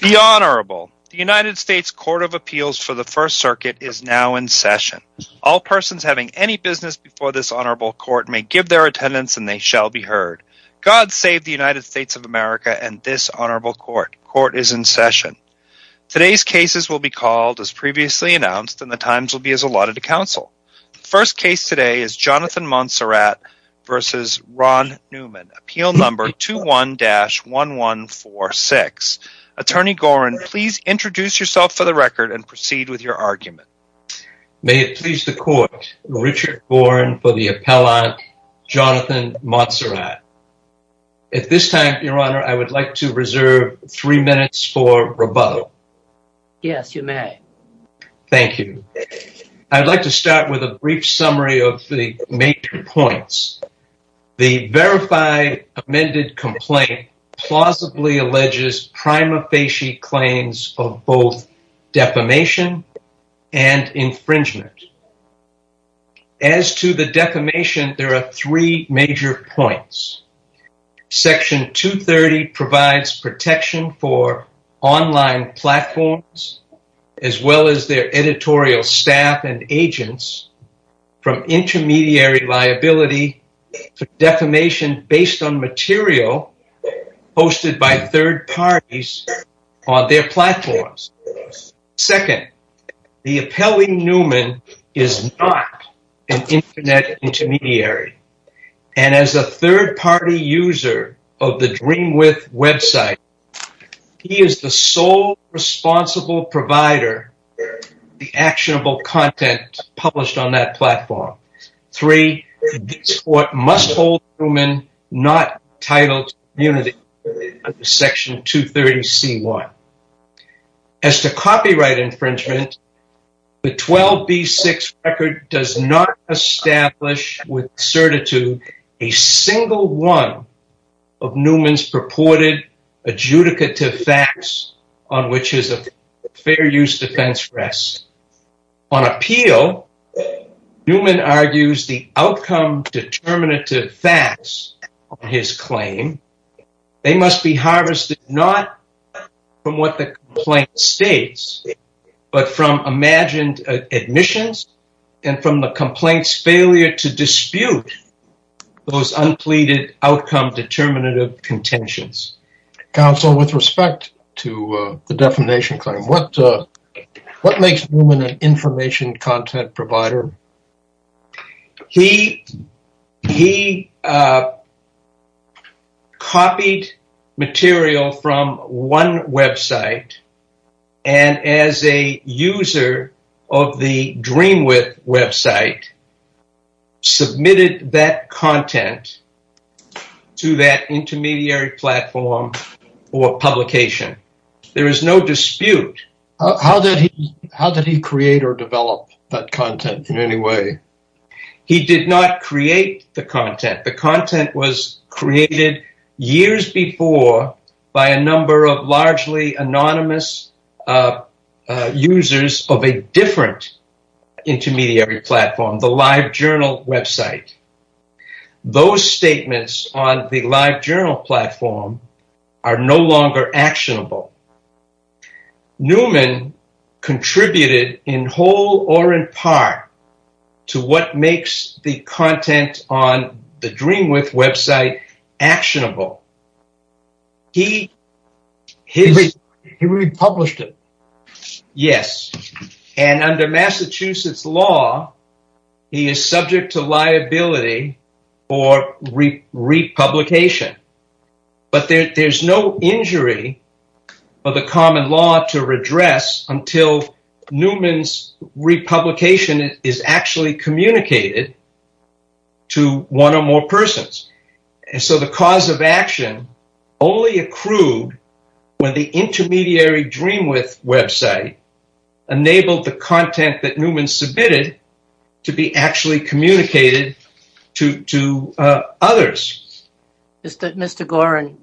The Honorable. The United States Court of Appeals for the First Circuit is now in session. All persons having any business before this honorable court may give their attendance and they shall be heard. God save the United States of America and this honorable court. Court is in session. Today's cases will be called as previously announced and the times will be as allotted to counsel. First case today is Jonathan Monserrat v. Ron Newman, appeal number 21-1146. Attorney Gorin, please introduce yourself for the record and proceed with your argument. May it please the court, Richard Gorin for the appellant, Jonathan Monserrat. At this time, your honor, I would like to reserve three minutes for rebuttal. Yes, you may. Thank you. I'd like to start with a brief summary of the major points. The verified amended complaint plausibly alleges prima facie claims of both defamation and infringement. As to the defamation, there are three major points. Section 230 provides protection for online platforms as well as their editorial staff and agents from intermediary liability for defamation based on material hosted by third parties on their platforms. Second, the appellee Newman is not an internet intermediary. And as a third-party user of the Dreamwith website, he is the sole responsible provider of the actionable content published on that platform. Three, this court must hold Newman not entitled to immunity under section 230C1. As to copyright infringement, the 12B6 record does not establish with certitude a single one of Newman's purported adjudicative facts on which his fair use defense rests. On appeal, Newman argues the outcome determinative facts on his claim, they must be harvested not from what the complaint states, but from imagined admissions and from the complaint's failure to dispute those unpleaded outcome determinative contentions. Counsel, with respect to the defamation claim, what makes Newman an information content provider? He copied material from one website and as a user of the Dreamwith website, submitted that content to that intermediary platform for publication. There is no dispute. How did he create or develop that content in any way? He did not create the content. The content was created years before by a number of largely anonymous users of a different intermediary platform, the LiveJournal website. Those statements on the LiveJournal platform are no longer actionable. Newman contributed in whole or in part to what makes the content on the Dreamwith website actionable. He republished it. Yes, and under Massachusetts law, he is subject to liability for republication. But there is no injury for the common law to redress until Newman's republication is actually communicated to one or more persons. The cause of action only accrued when the intermediary Dreamwith website enabled the content that Newman submitted to be actually communicated to others. Mr. Gorin,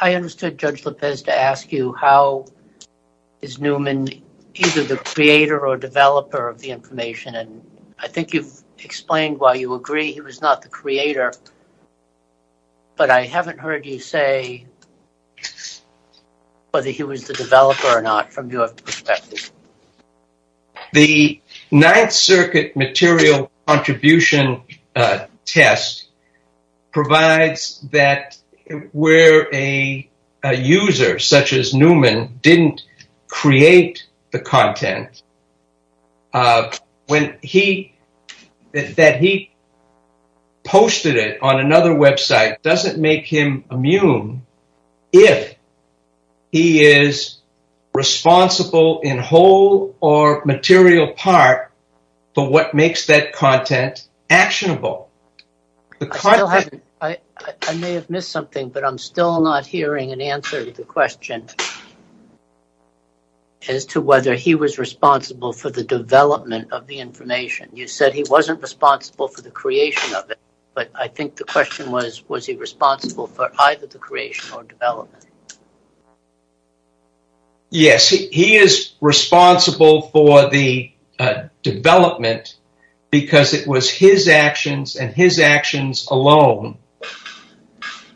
I understood Judge Lopez to ask you how is Newman either the creator or developer of the information. I think you've explained why you agree he was not the creator, but I haven't heard you say whether he was the developer or not from your perspective. The Ninth Circuit material contribution test provides that where a user such as Newman didn't create the content, that he posted it on another website doesn't make him immune if he is responsible in whole or material part for what makes that content actionable. I may have missed something, but I'm still not hearing an answer to the question as to whether he was responsible for the development of the information. You said he wasn't responsible for the creation of it, but I think the question was, was he responsible for either the creation or development. Yes, he is responsible for the development because it was his actions and his actions alone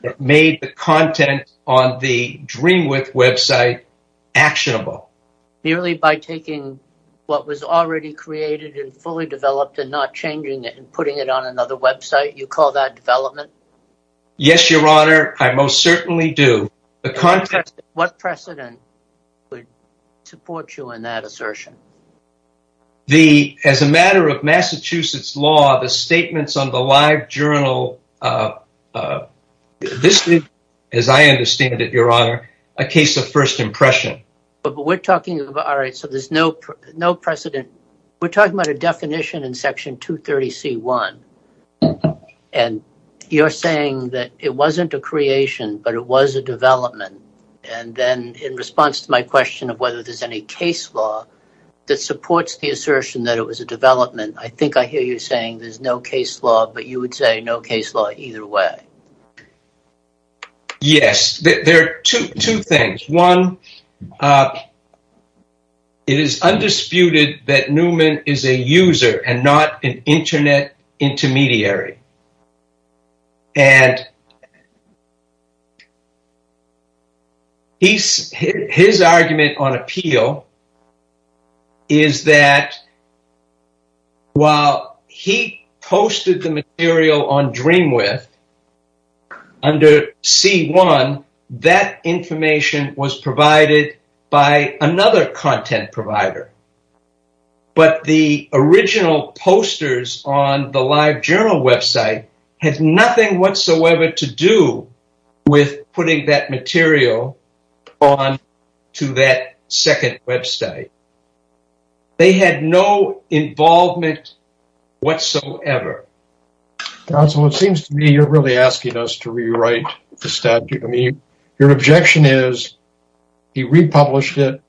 that made the content on the Dreamwith website actionable. Merely by taking what was already created and fully developed and not changing it and putting it on another website, you call that development? Yes, Your Honor, I most certainly do. What precedent would support you in that assertion? As a matter of Massachusetts law, the statements on the LiveJournal, this is, as I understand it, Your Honor, a case of first impression. We're talking about a definition in Section 230c.1 and you're saying that it wasn't a creation, but it was a development. Then in response to my question of whether there's any case law that supports the assertion that it was a development, I think I hear you saying there's no case law, but you would say no case law either way. Yes, there are two things. One, it is undisputed that Newman is a user and not an Internet intermediary. His argument on appeal is that while he posted the material on Dreamwith under c.1, that information was provided by another content provider. But the original posters on the LiveJournal website had nothing whatsoever to do with putting that material on to that second website. They had no involvement whatsoever. Counsel, it seems to me you're really asking us to rewrite the statute. Your objection is he republished it,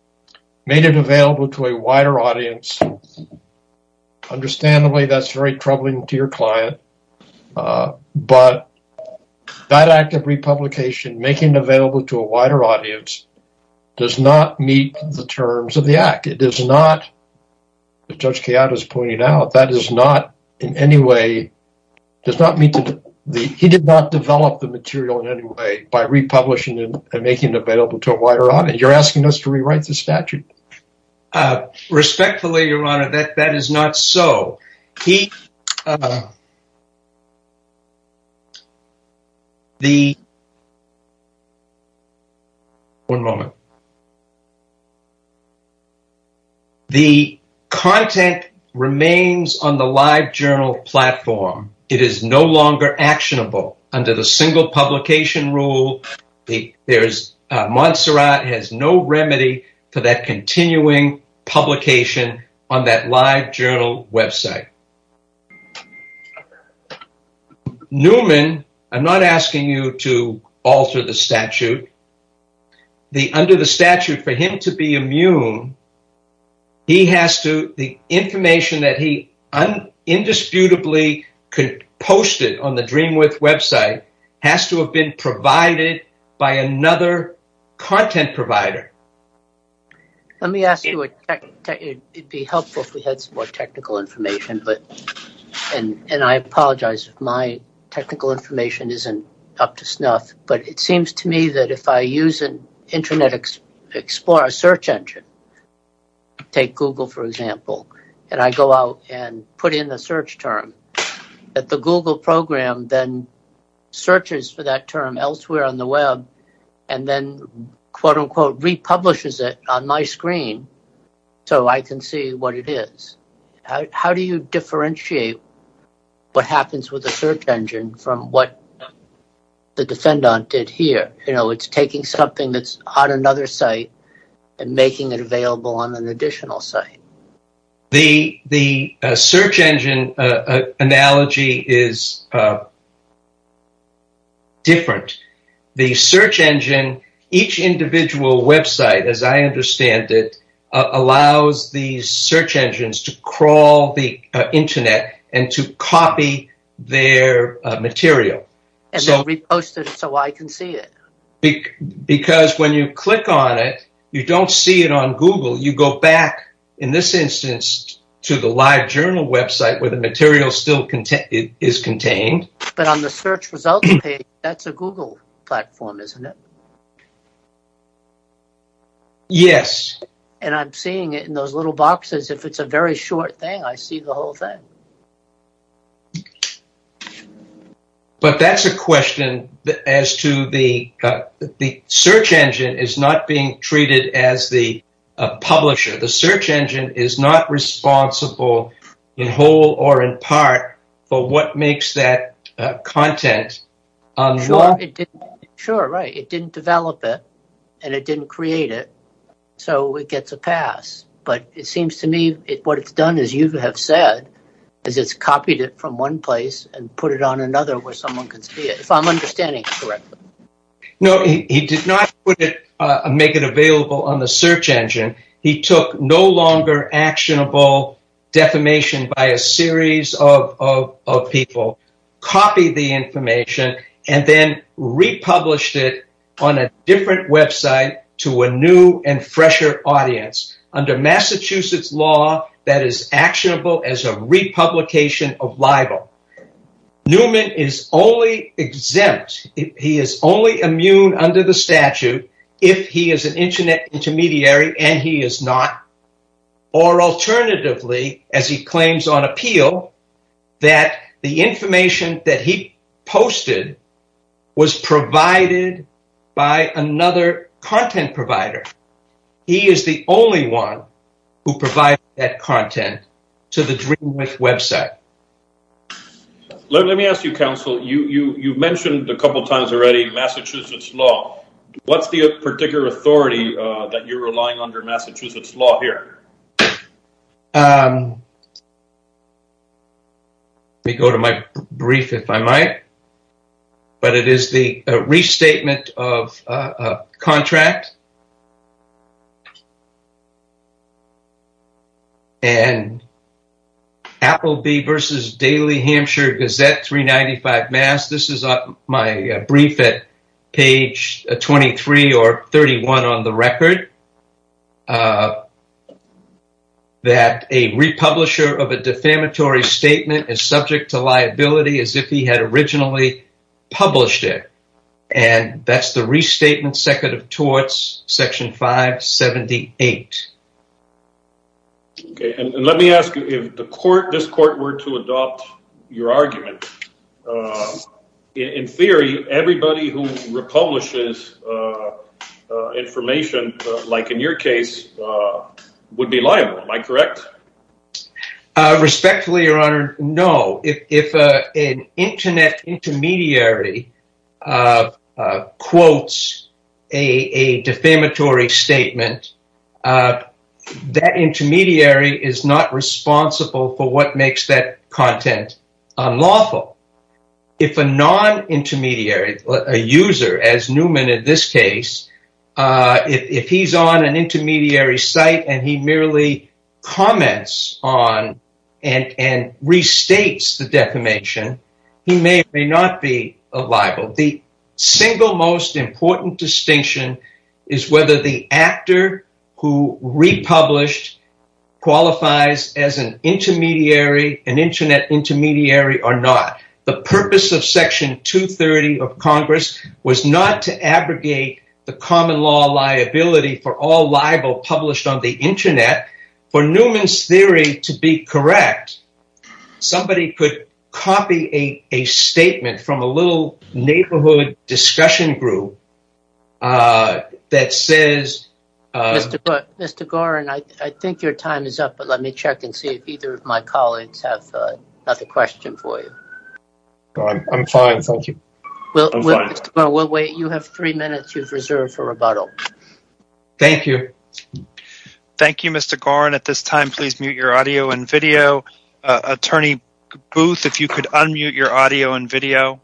made it available to a wider audience. Understandably, that's very troubling to your client. But that act of republication, making it available to a wider audience, does not meet the terms of the act. As Judge Keada pointed out, he did not develop the material in any way by republishing it and making it available to a wider audience. You're asking us to rewrite the statute. Respectfully, Your Honor, that is not so. One moment. The content remains on the LiveJournal platform. It is no longer actionable under the single publication rule. Montserrat has no remedy for that continuing publication on that LiveJournal website. Newman, I'm not asking you to alter the statute. Under the statute, for him to be immune, the information that he indisputably posted on the Dreamwith website has to have been provided by another content provider. Let me ask you, it would be helpful if we had some more technical information. I apologize if my technical information isn't up to snuff. It seems to me that if I use Internet Explorer search engine, take Google for example, and I go out and put in a search term, that the Google program then searches for that term elsewhere on the web and then, quote-unquote, republishes it on my screen so I can see what it is. How do you differentiate what happens with a search engine from what the defendant did here? You know, it's taking something that's on another site and making it available on an additional site. The search engine analogy is different. The search engine, each individual website, as I understand it, allows the search engines to crawl the Internet and to copy their material. And then repost it so I can see it. Because when you click on it, you don't see it on Google. You go back, in this instance, to the LiveJournal website where the material is still contained. But on the search results page, that's a Google platform, isn't it? Yes. And I'm seeing it in those little boxes. If it's a very short thing, I see the whole thing. But that's a question as to the search engine is not being treated as the publisher. The search engine is not responsible in whole or in part for what makes that content. Sure, right. It didn't develop it and it didn't create it. So it gets a pass. But it seems to me what it's done, as you have said, is it's copied it from one place and put it on another where someone can see it, if I'm understanding it correctly. No, he did not make it available on the search engine. He took no longer actionable defamation by a series of people, copied the information and then republished it on a different website to a new and fresher audience under Massachusetts law that is actionable as a republication of libel. Newman is only exempt, he is only immune under the statute, if he is an internet intermediary and he is not. Or alternatively, as he claims on appeal, that the information that he posted was provided by another content provider. He is the only one who provides that content to the Dreamwith website. Let me ask you, counsel, you mentioned a couple of times already Massachusetts law. What's the particular authority that you're relying on under Massachusetts law here? Let me go to my brief, if I might. But it is the restatement of a contract. And Applebee versus Daily Hampshire Gazette 395 Mass. This is my brief at page 23 or 31 on the record. That a republisher of a defamatory statement is subject to liability as if he had originally published it. And that's the restatement second of torts, section 578. Let me ask you, if this court were to adopt your argument, in theory, everybody who republishes information, like in your case, would be liable, am I correct? Respectfully, your honor, no. If an internet intermediary quotes a defamatory statement, that intermediary is not responsible for what makes that content unlawful. If a non-intermediary, a user, as Newman in this case, if he's on an intermediary site and he merely comments on and restates the defamation, he may or may not be liable. The single most important distinction is whether the actor who republished qualifies as an internet intermediary or not. The purpose of section 230 of Congress was not to abrogate the common law liability for all liable published on the internet. For Newman's theory to be correct, somebody could copy a statement from a little neighborhood discussion group that says... Mr. Gorin, I think your time is up. Let me check and see if either of my colleagues have another question for you. I'm fine, thank you. Mr. Gorin, we'll wait. You have three minutes you've reserved for rebuttal. Thank you. Thank you, Mr. Gorin. At this time, please mute your audio and video. Attorney Booth, if you could unmute your audio and video.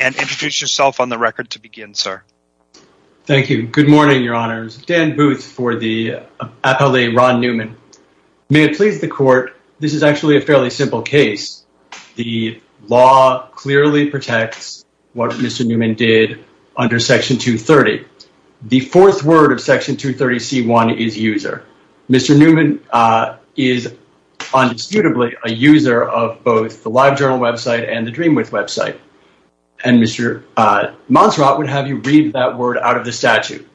And introduce yourself on the record to begin, sir. Thank you. Good morning, your honors. Dan Booth for the appellate Ron Newman. May it please the court, this is actually a fairly simple case. The law clearly protects what Mr. Newman did under section 230. The fourth word of section 230C1 is user. Mr. Newman is undisputably a user of both the LiveJournal website and the Dreamwith website. And Mr. Montserrat would have you read that word out of the statute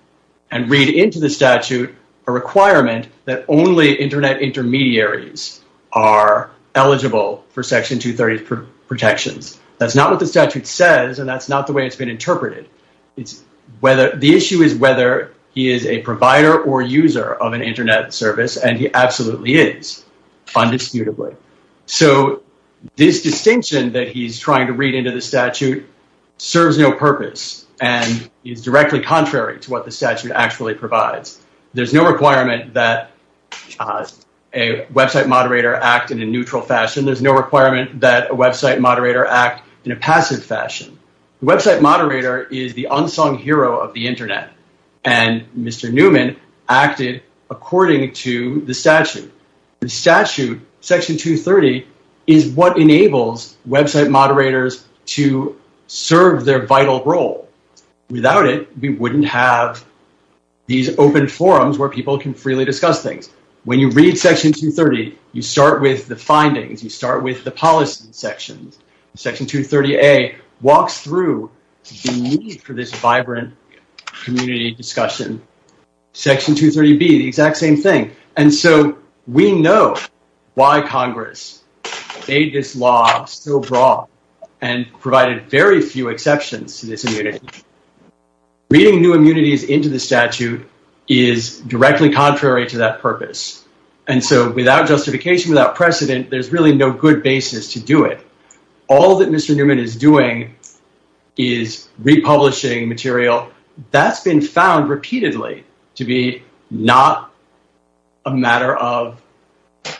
and read into the statute a requirement that only internet intermediaries are eligible for section 230 protections. That's not what the statute says and that's not the way it's been interpreted. The issue is whether he is a provider or user of an internet service and he absolutely is, undisputably. So this distinction that he's trying to read into the statute serves no purpose and is directly contrary to what the statute actually provides. There's no requirement that a website moderator act in a neutral fashion. There's no requirement that a website moderator act in a passive fashion. The website moderator is the unsung hero of the internet and Mr. Newman acted according to the statute. The statute, section 230, is what enables website moderators to serve their vital role. Without it, we wouldn't have these open forums where people can freely discuss things. When you read section 230, you start with the findings, you start with the policy sections. Section 230A walks through the need for this vibrant community discussion. Section 230B, the exact same thing. And so we know why Congress made this law so broad and provided very few exceptions to this immunity. Reading new immunities into the statute is directly contrary to that purpose. And so without justification, without precedent, there's really no good basis to do it. All that Mr. Newman is doing is republishing material that's been found repeatedly to be not a matter of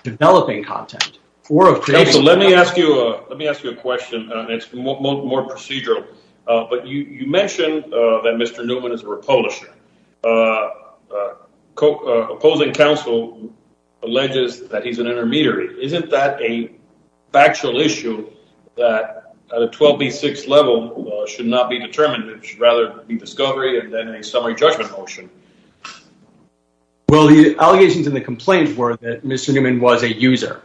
developing content. Counsel, let me ask you a question. It's more procedural. But you mentioned that Mr. Newman is a republisher. Opposing counsel alleges that he's an intermediary. Isn't that a factual issue that at a 12B6 level should not be determined? It should rather be discovery and then a summary judgment motion? Well, the allegations and the complaints were that Mr. Newman was a user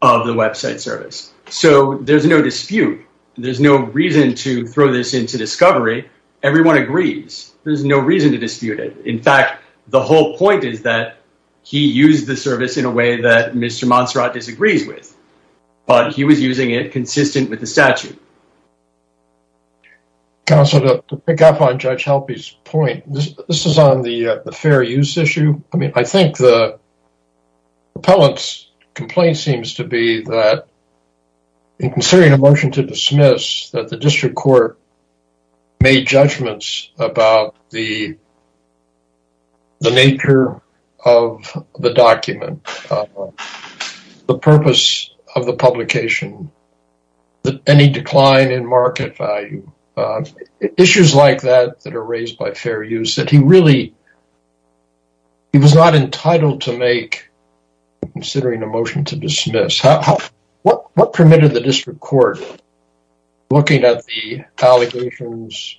of the website service. So there's no dispute. There's no reason to throw this into discovery. Everyone agrees. There's no reason to dispute it. In fact, the whole point is that he used the service in a way that Mr. Montserrat disagrees with. But he was using it consistent with the statute. Counsel, to pick up on Judge Halpy's point, this is on the fair use issue. I mean, I think the appellant's complaint seems to be that in considering a motion to dismiss that the district court made judgments about the nature of the document. The purpose of the publication. Any decline in market value. Issues like that that are raised by fair use that he really, he was not entitled to make considering a motion to dismiss. What permitted the district court looking at the allegations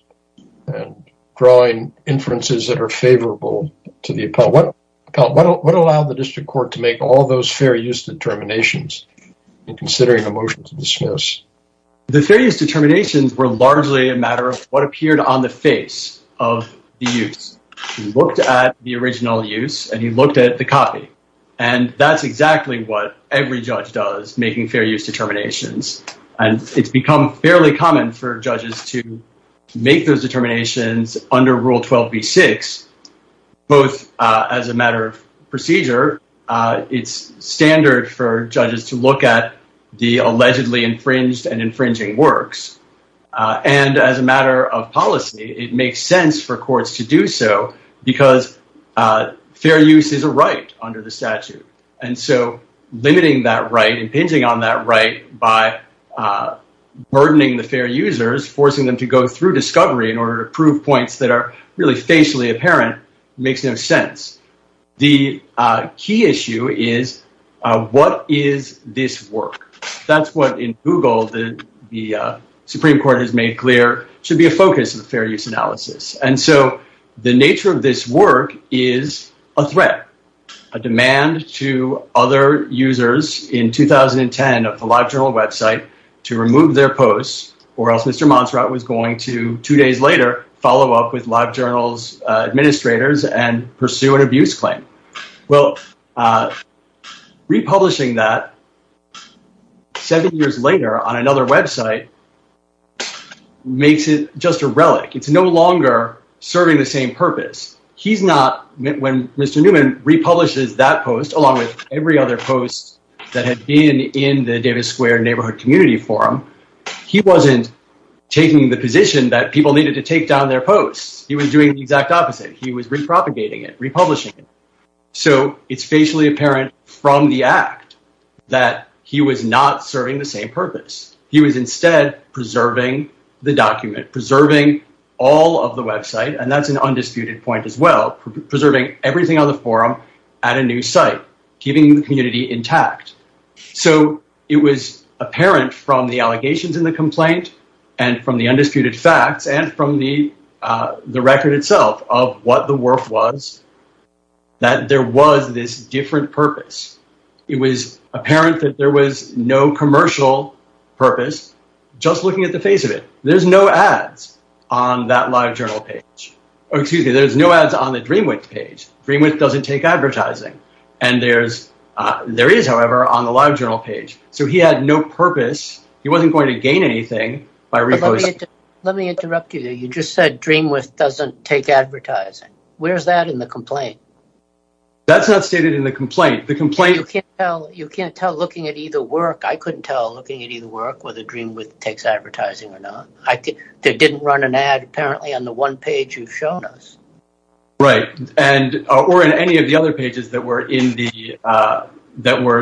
and drawing inferences that are favorable to the appellant? What allowed the district court to make all those fair use determinations in considering a motion to dismiss? The fair use determinations were largely a matter of what appeared on the face of the use. He looked at the original use and he looked at the copy. And that's exactly what every judge does, making fair use determinations. And it's become fairly common for judges to make those as a matter of procedure. It's standard for judges to look at the allegedly infringed and infringing works. And as a matter of policy, it makes sense for courts to do so because fair use is a right under the statute. And so limiting that right, impinging on that right by burdening the fair users, forcing them to go through discovery in order to prove points that are really facially apparent makes no sense. The key issue is what is this work? That's what in Google the Supreme Court has made clear should be a focus of the fair use analysis. And so the nature of this work is a threat, a demand to other users in 2010 of the LiveJournal website to remove their posts or else Mr. Montserrat was going to, two days later, follow up with LiveJournal's administrator and pursue an abuse claim. Well, republishing that seven years later on another website makes it just a relic. It's no longer serving the same purpose. When Mr. Newman republishes that post along with every other post that had been in the Davis Square Neighborhood Community Forum, he wasn't taking the position that people needed to take down their posts. He was doing the exact opposite. He was repropagating it, republishing it. So it's facially apparent from the act that he was not serving the same purpose. He was instead preserving the document, preserving all of the website, and that's an undisputed point as well, preserving everything on the forum at a new site, keeping the community intact. So it was apparent from the allegations in the complaint and from the undisputed facts and from the record itself of what the work was, that there was this different purpose. It was apparent that there was no commercial purpose, just looking at the face of it. There's no ads on that LiveJournal page. Oh, excuse me, there's no ads on the DreamWidth page. DreamWidth doesn't take advertising. There is, however, on the LiveJournal page. So he had no purpose. He wasn't going to gain anything by reposting. Let me interrupt you there. You just said DreamWidth doesn't take advertising. Where's that in the complaint? That's not stated in the complaint. You can't tell looking at either work. I couldn't tell looking at either work whether DreamWidth takes advertising or not. They didn't run an ad, apparently, on the one page you've shown us. Right, or in any of the other pages that were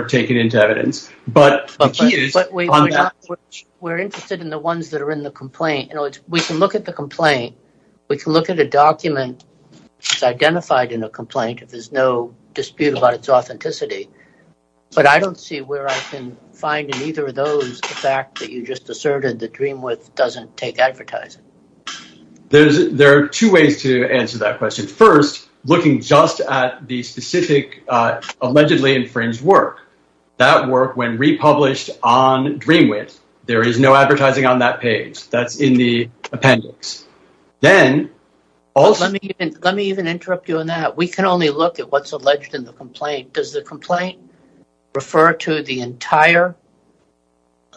taken into evidence. But we're interested in the ones that are in the complaint. We can look at the complaint. We can look at a document that's identified in a complaint if there's no dispute about its authenticity. But I don't see where I can find in either of those the fact that you just asserted that DreamWidth doesn't take advertising. There are two ways to answer that question. First, looking just at the specific, allegedly infringed work. That work, when republished on DreamWidth, there is no advertising on that page. That's in the appendix. Then... Let me even interrupt you on that. We can only look at what's alleged in the complaint. Does the complaint refer to the entire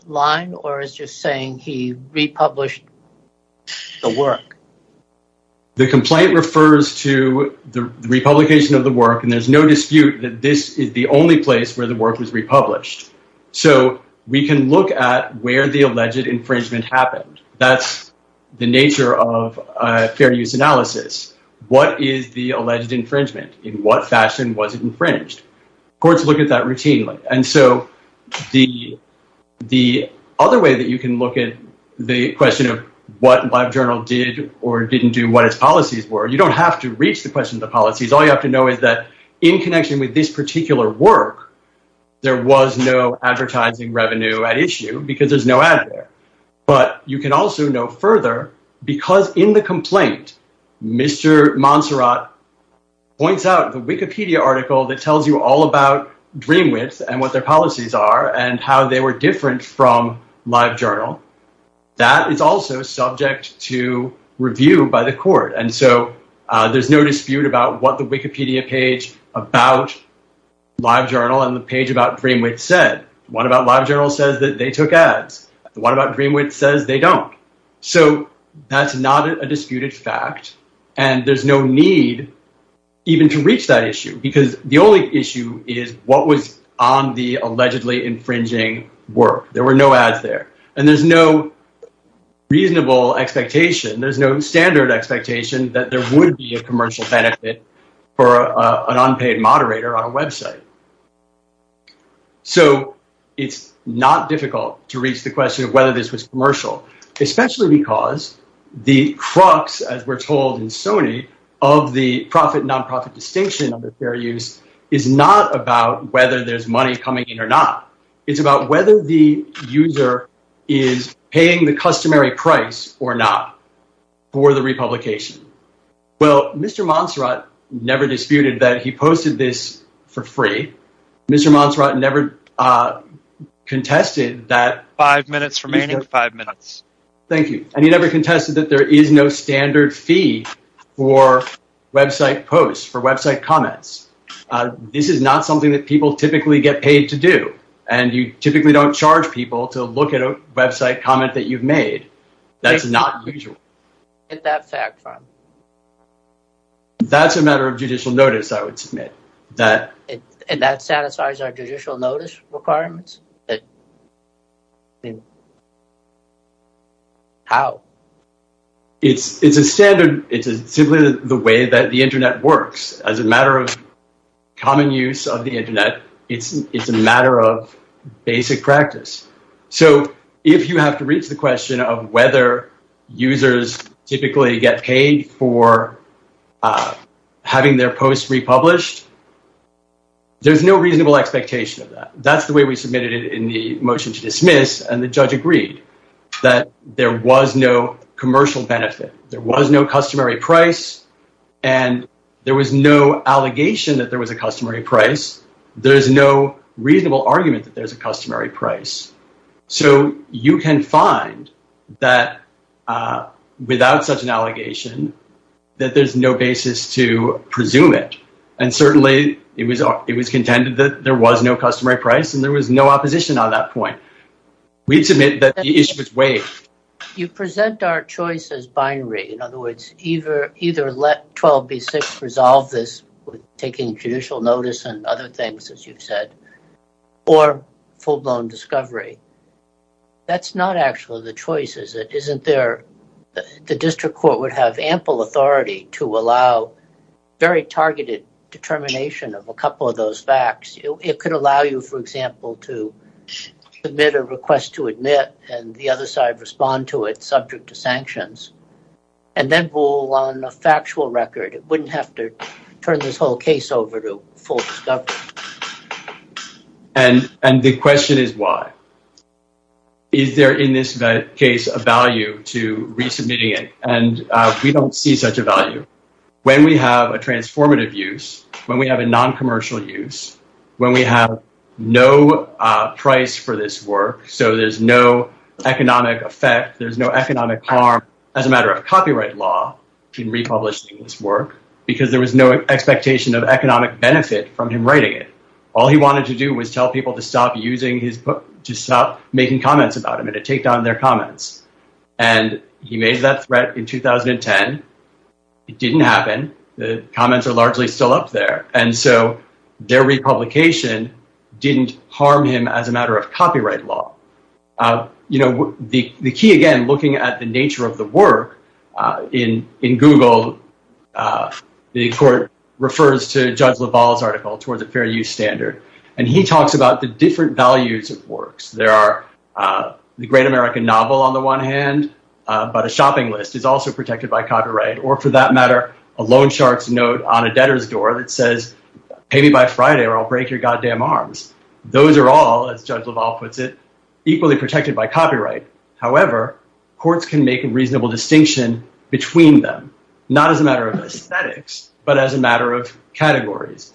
line? Or is just saying he republished the work? The complaint refers to the republication of the work. And there's no dispute that this is the only place where the work was republished. So we can look at where the alleged infringement happened. That's the nature of fair use analysis. What is the alleged infringement? In what fashion was it infringed? Courts look at that routinely. And so the other way that you can look at the question of what LiveJournal did or didn't do, what its policies were, you don't have to reach the question of the policies. All you have to know is that in connection with this particular work, there was no advertising revenue at issue because there's no ad there. But you can also know further because in the complaint, Mr. Montserrat points out the Wikipedia article that tells you all about DreamWidth and what their policies are and how they were different from LiveJournal. That is also subject to review by the court. And so there's no dispute about what the Wikipedia page about LiveJournal and the page about DreamWidth said. One about LiveJournal says that they took ads. The one about DreamWidth says they don't. So that's not a disputed fact. And there's no need even to reach that issue because the only issue is what was on the allegedly infringing work. There were no ads there. And there's no reasonable expectation. There's no standard expectation that there would be a commercial benefit for an unpaid moderator on a website. So it's not difficult to reach the question of whether this was commercial, especially because the crux, as we're told in Sony, of the profit-nonprofit distinction under fair use is not about whether there's money coming in or not. It's about whether the user is paying the customary price or not for the republication. Well, Mr. Montserrat never disputed that he posted this for free. Mr. Montserrat never contested that... Five minutes remaining. Five minutes. Thank you. And he never contested that there is no standard fee for website posts, for website comments. This is not something that people typically get paid to do. And you typically don't charge people to look at a website comment that you've made. That's not usual. Get that fact from him. That's a matter of judicial notice, I would submit. And that satisfies our judicial notice requirements? How? It's a standard. It's simply the way that the Internet works. As a matter of common use of the Internet, it's a matter of basic practice. So, if you have to reach the question of whether users typically get paid for having their posts republished, there's no reasonable expectation of that. That's the way we submitted it in the motion to dismiss. And the judge agreed that there was no commercial benefit. There was no customary price. And there was no allegation that there was a customary price. There's no reasonable argument that there's a customary price. So, you can find that, without such an allegation, that there's no basis to presume it. And certainly, it was contended that there was no customary price and there was no opposition on that point. We submit that the issue was waived. You present our choice as binary. In other words, either let 12b6 resolve this with taking judicial notice and other things, as you've said, or full-blown discovery. That's not actually the choice, is it? Isn't there... The district court would have ample authority to allow very targeted determination of a couple of those facts. It could allow you, for example, to submit a request to admit and the other side respond to it subject to sanctions. And then rule on a factual record. It wouldn't have to turn this whole case over to full discovery. And the question is why? Is there, in this case, a value to resubmitting it? And we don't see such a value. When we have a transformative use, when we have a non-commercial use, when we have no price for this work, so there's no economic effect, there's no economic harm as a matter of copyright law in republishing this work, because there was no expectation of economic benefit from him writing it. All he wanted to do was tell people to stop making comments about him and to take down their comments. And he made that threat in 2010. It didn't happen. The comments are largely still up there. And so their republication didn't harm him as a matter of copyright law. You know, the key, again, looking at the nature of the work, in Google, the court refers to Judge LaValle's article towards a fair use standard. And he talks about the different values of works. There are the great American novel, on the one hand, but a shopping list for copyright, or for that matter, a loan shark's note on a debtor's door that says, pay me by Friday or I'll break your goddamn arms. Those are all, as Judge LaValle puts it, equally protected by copyright. However, courts can make a reasonable distinction between them, not as a matter of aesthetics, but as a matter of categories.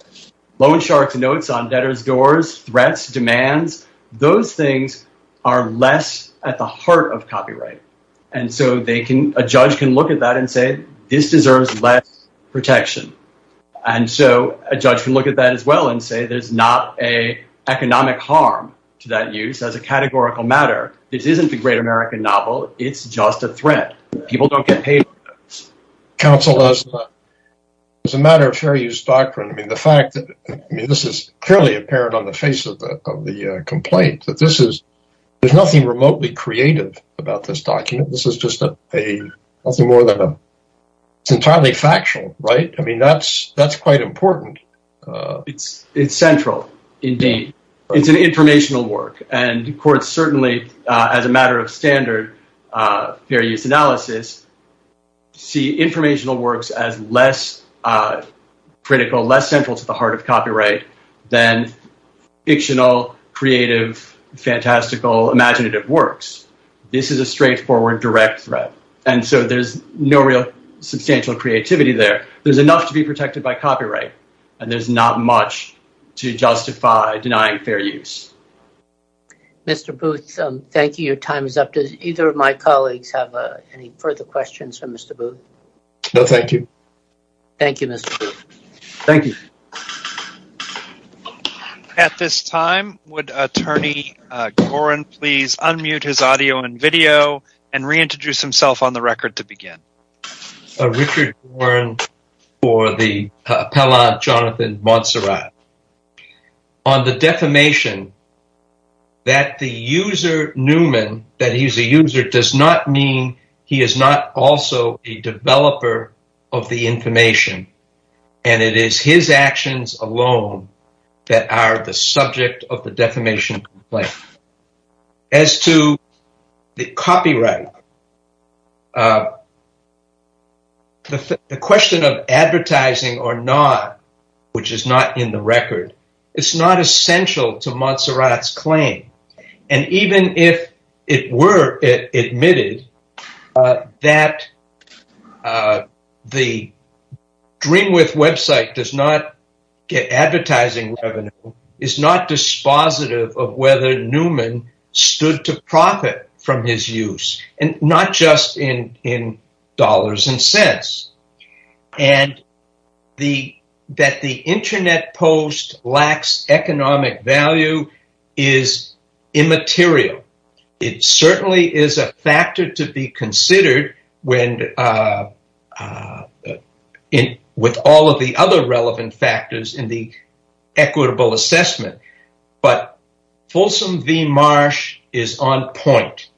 Loan shark's notes on debtor's doors, threats, demands, this deserves less protection. And so, a judge can look at that as well and say there's not an economic harm to that use as a categorical matter. This isn't the great American novel. It's just a threat. People don't get paid for this. Counsel, as a matter of fair use doctrine, the fact that this is clearly apparent on the face of the complaint, that this is, there's nothing remotely creative about this document. It's entirely factual, right? I mean, that's quite important. It's central, indeed. It's an informational work. And courts certainly, as a matter of standard, fair use analysis, see informational works as less critical, less central to the heart of copyright than fictional, creative, fantastical, imaginative works. This is a straightforward, direct threat. And so, there's no real substantial creativity there. There's enough to be protected by copyright. And there's not much to justify denying fair use. Mr. Booth, thank you. Your time is up. Does either of my colleagues have any further questions for Mr. Booth? No, thank you. Thank you, Mr. Booth. Thank you. At this time, would Attorney Gorin please unmute his audio and video and reintroduce himself on the record to begin. Richard Gorin for the appellate Jonathan Monserrat. On the defamation, that the user, Newman, that he's a user, does not mean he is not also a developer of the information. And it is his actions alone that are the subject of the defamation complaint. As to the copyright, the question of advertising or not, which is not in the record, it's not essential to Monserrat's claim. And even if it were admitted that the Dreamwith website does not get advertising revenue, is not dispositive of whether Newman stood to profit from his use. And not just in dollars and cents. And that the internet post lacks economic value is immaterial. It certainly is a factor to be considered when with all of the other relevant factors in the equitable assessment. But Folsom v. Marsh is on point.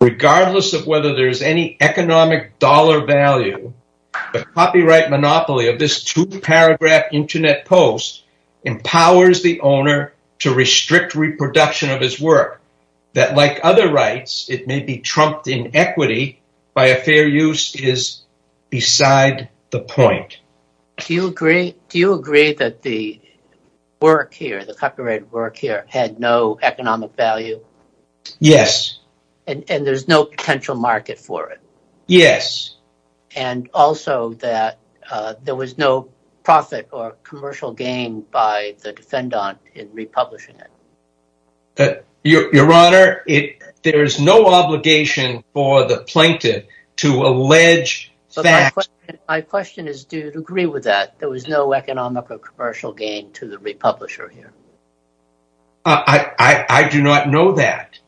Regardless of whether there's any economic dollar value, the copyright monopoly of this two-paragraph internet post empowers the owner to restrict reproduction of his work. That, like other rights, it may be trumped in equity by a fair use is beside the point. Do you agree that the work here, had no economic value? Yes. And there's no potential market for it? Yes. And also that there was no profit or commercial gain by the defendant in republishing it? Your Honor, there is no obligation for the plaintiff to allege facts. My question is, do you agree with that? There was no economic or commercial gain to the republisher here? I do not know that.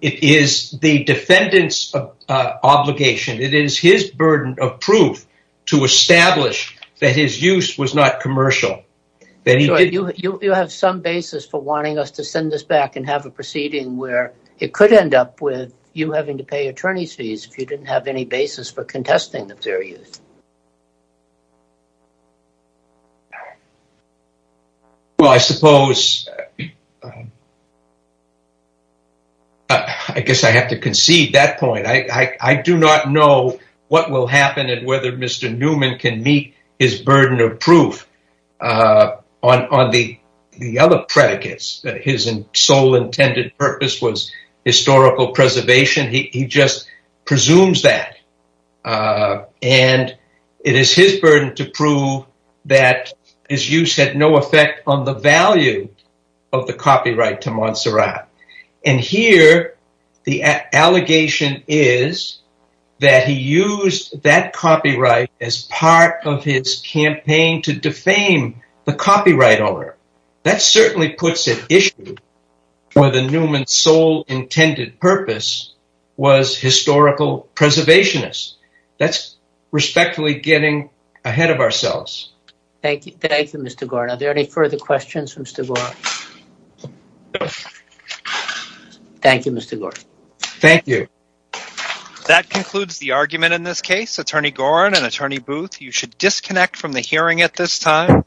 It is the defendant's obligation. It is his burden of proof to establish that his use was not commercial. You have some basis for wanting us to send this back and have a proceeding where it could end up with you having to pay attorney's fees if you didn't have any basis for contesting the fair use. Well, I suppose I guess I have to concede that point. I do not know what will happen and whether Mr. Newman can meet his burden of proof on the other predicates that his sole intended purpose was historical preservation. He just presumes that. And it is his burden to prove that his use had no effect on the value of the copyright to Montserrat. And here, the allegation is that he used that copyright as part of his campaign to defame the copyright owner. That certainly puts an issue where the Newman's sole intended purpose was historical preservationist. That's respectfully getting ahead of ourselves. Thank you. Thank you, Mr. Gore. Are there any further questions from Mr. Gore? No. Thank you, Mr. Gore. Thank you. That concludes the argument in this case. Attorney Gorin and Attorney Booth, you should disconnect from the hearing at this time.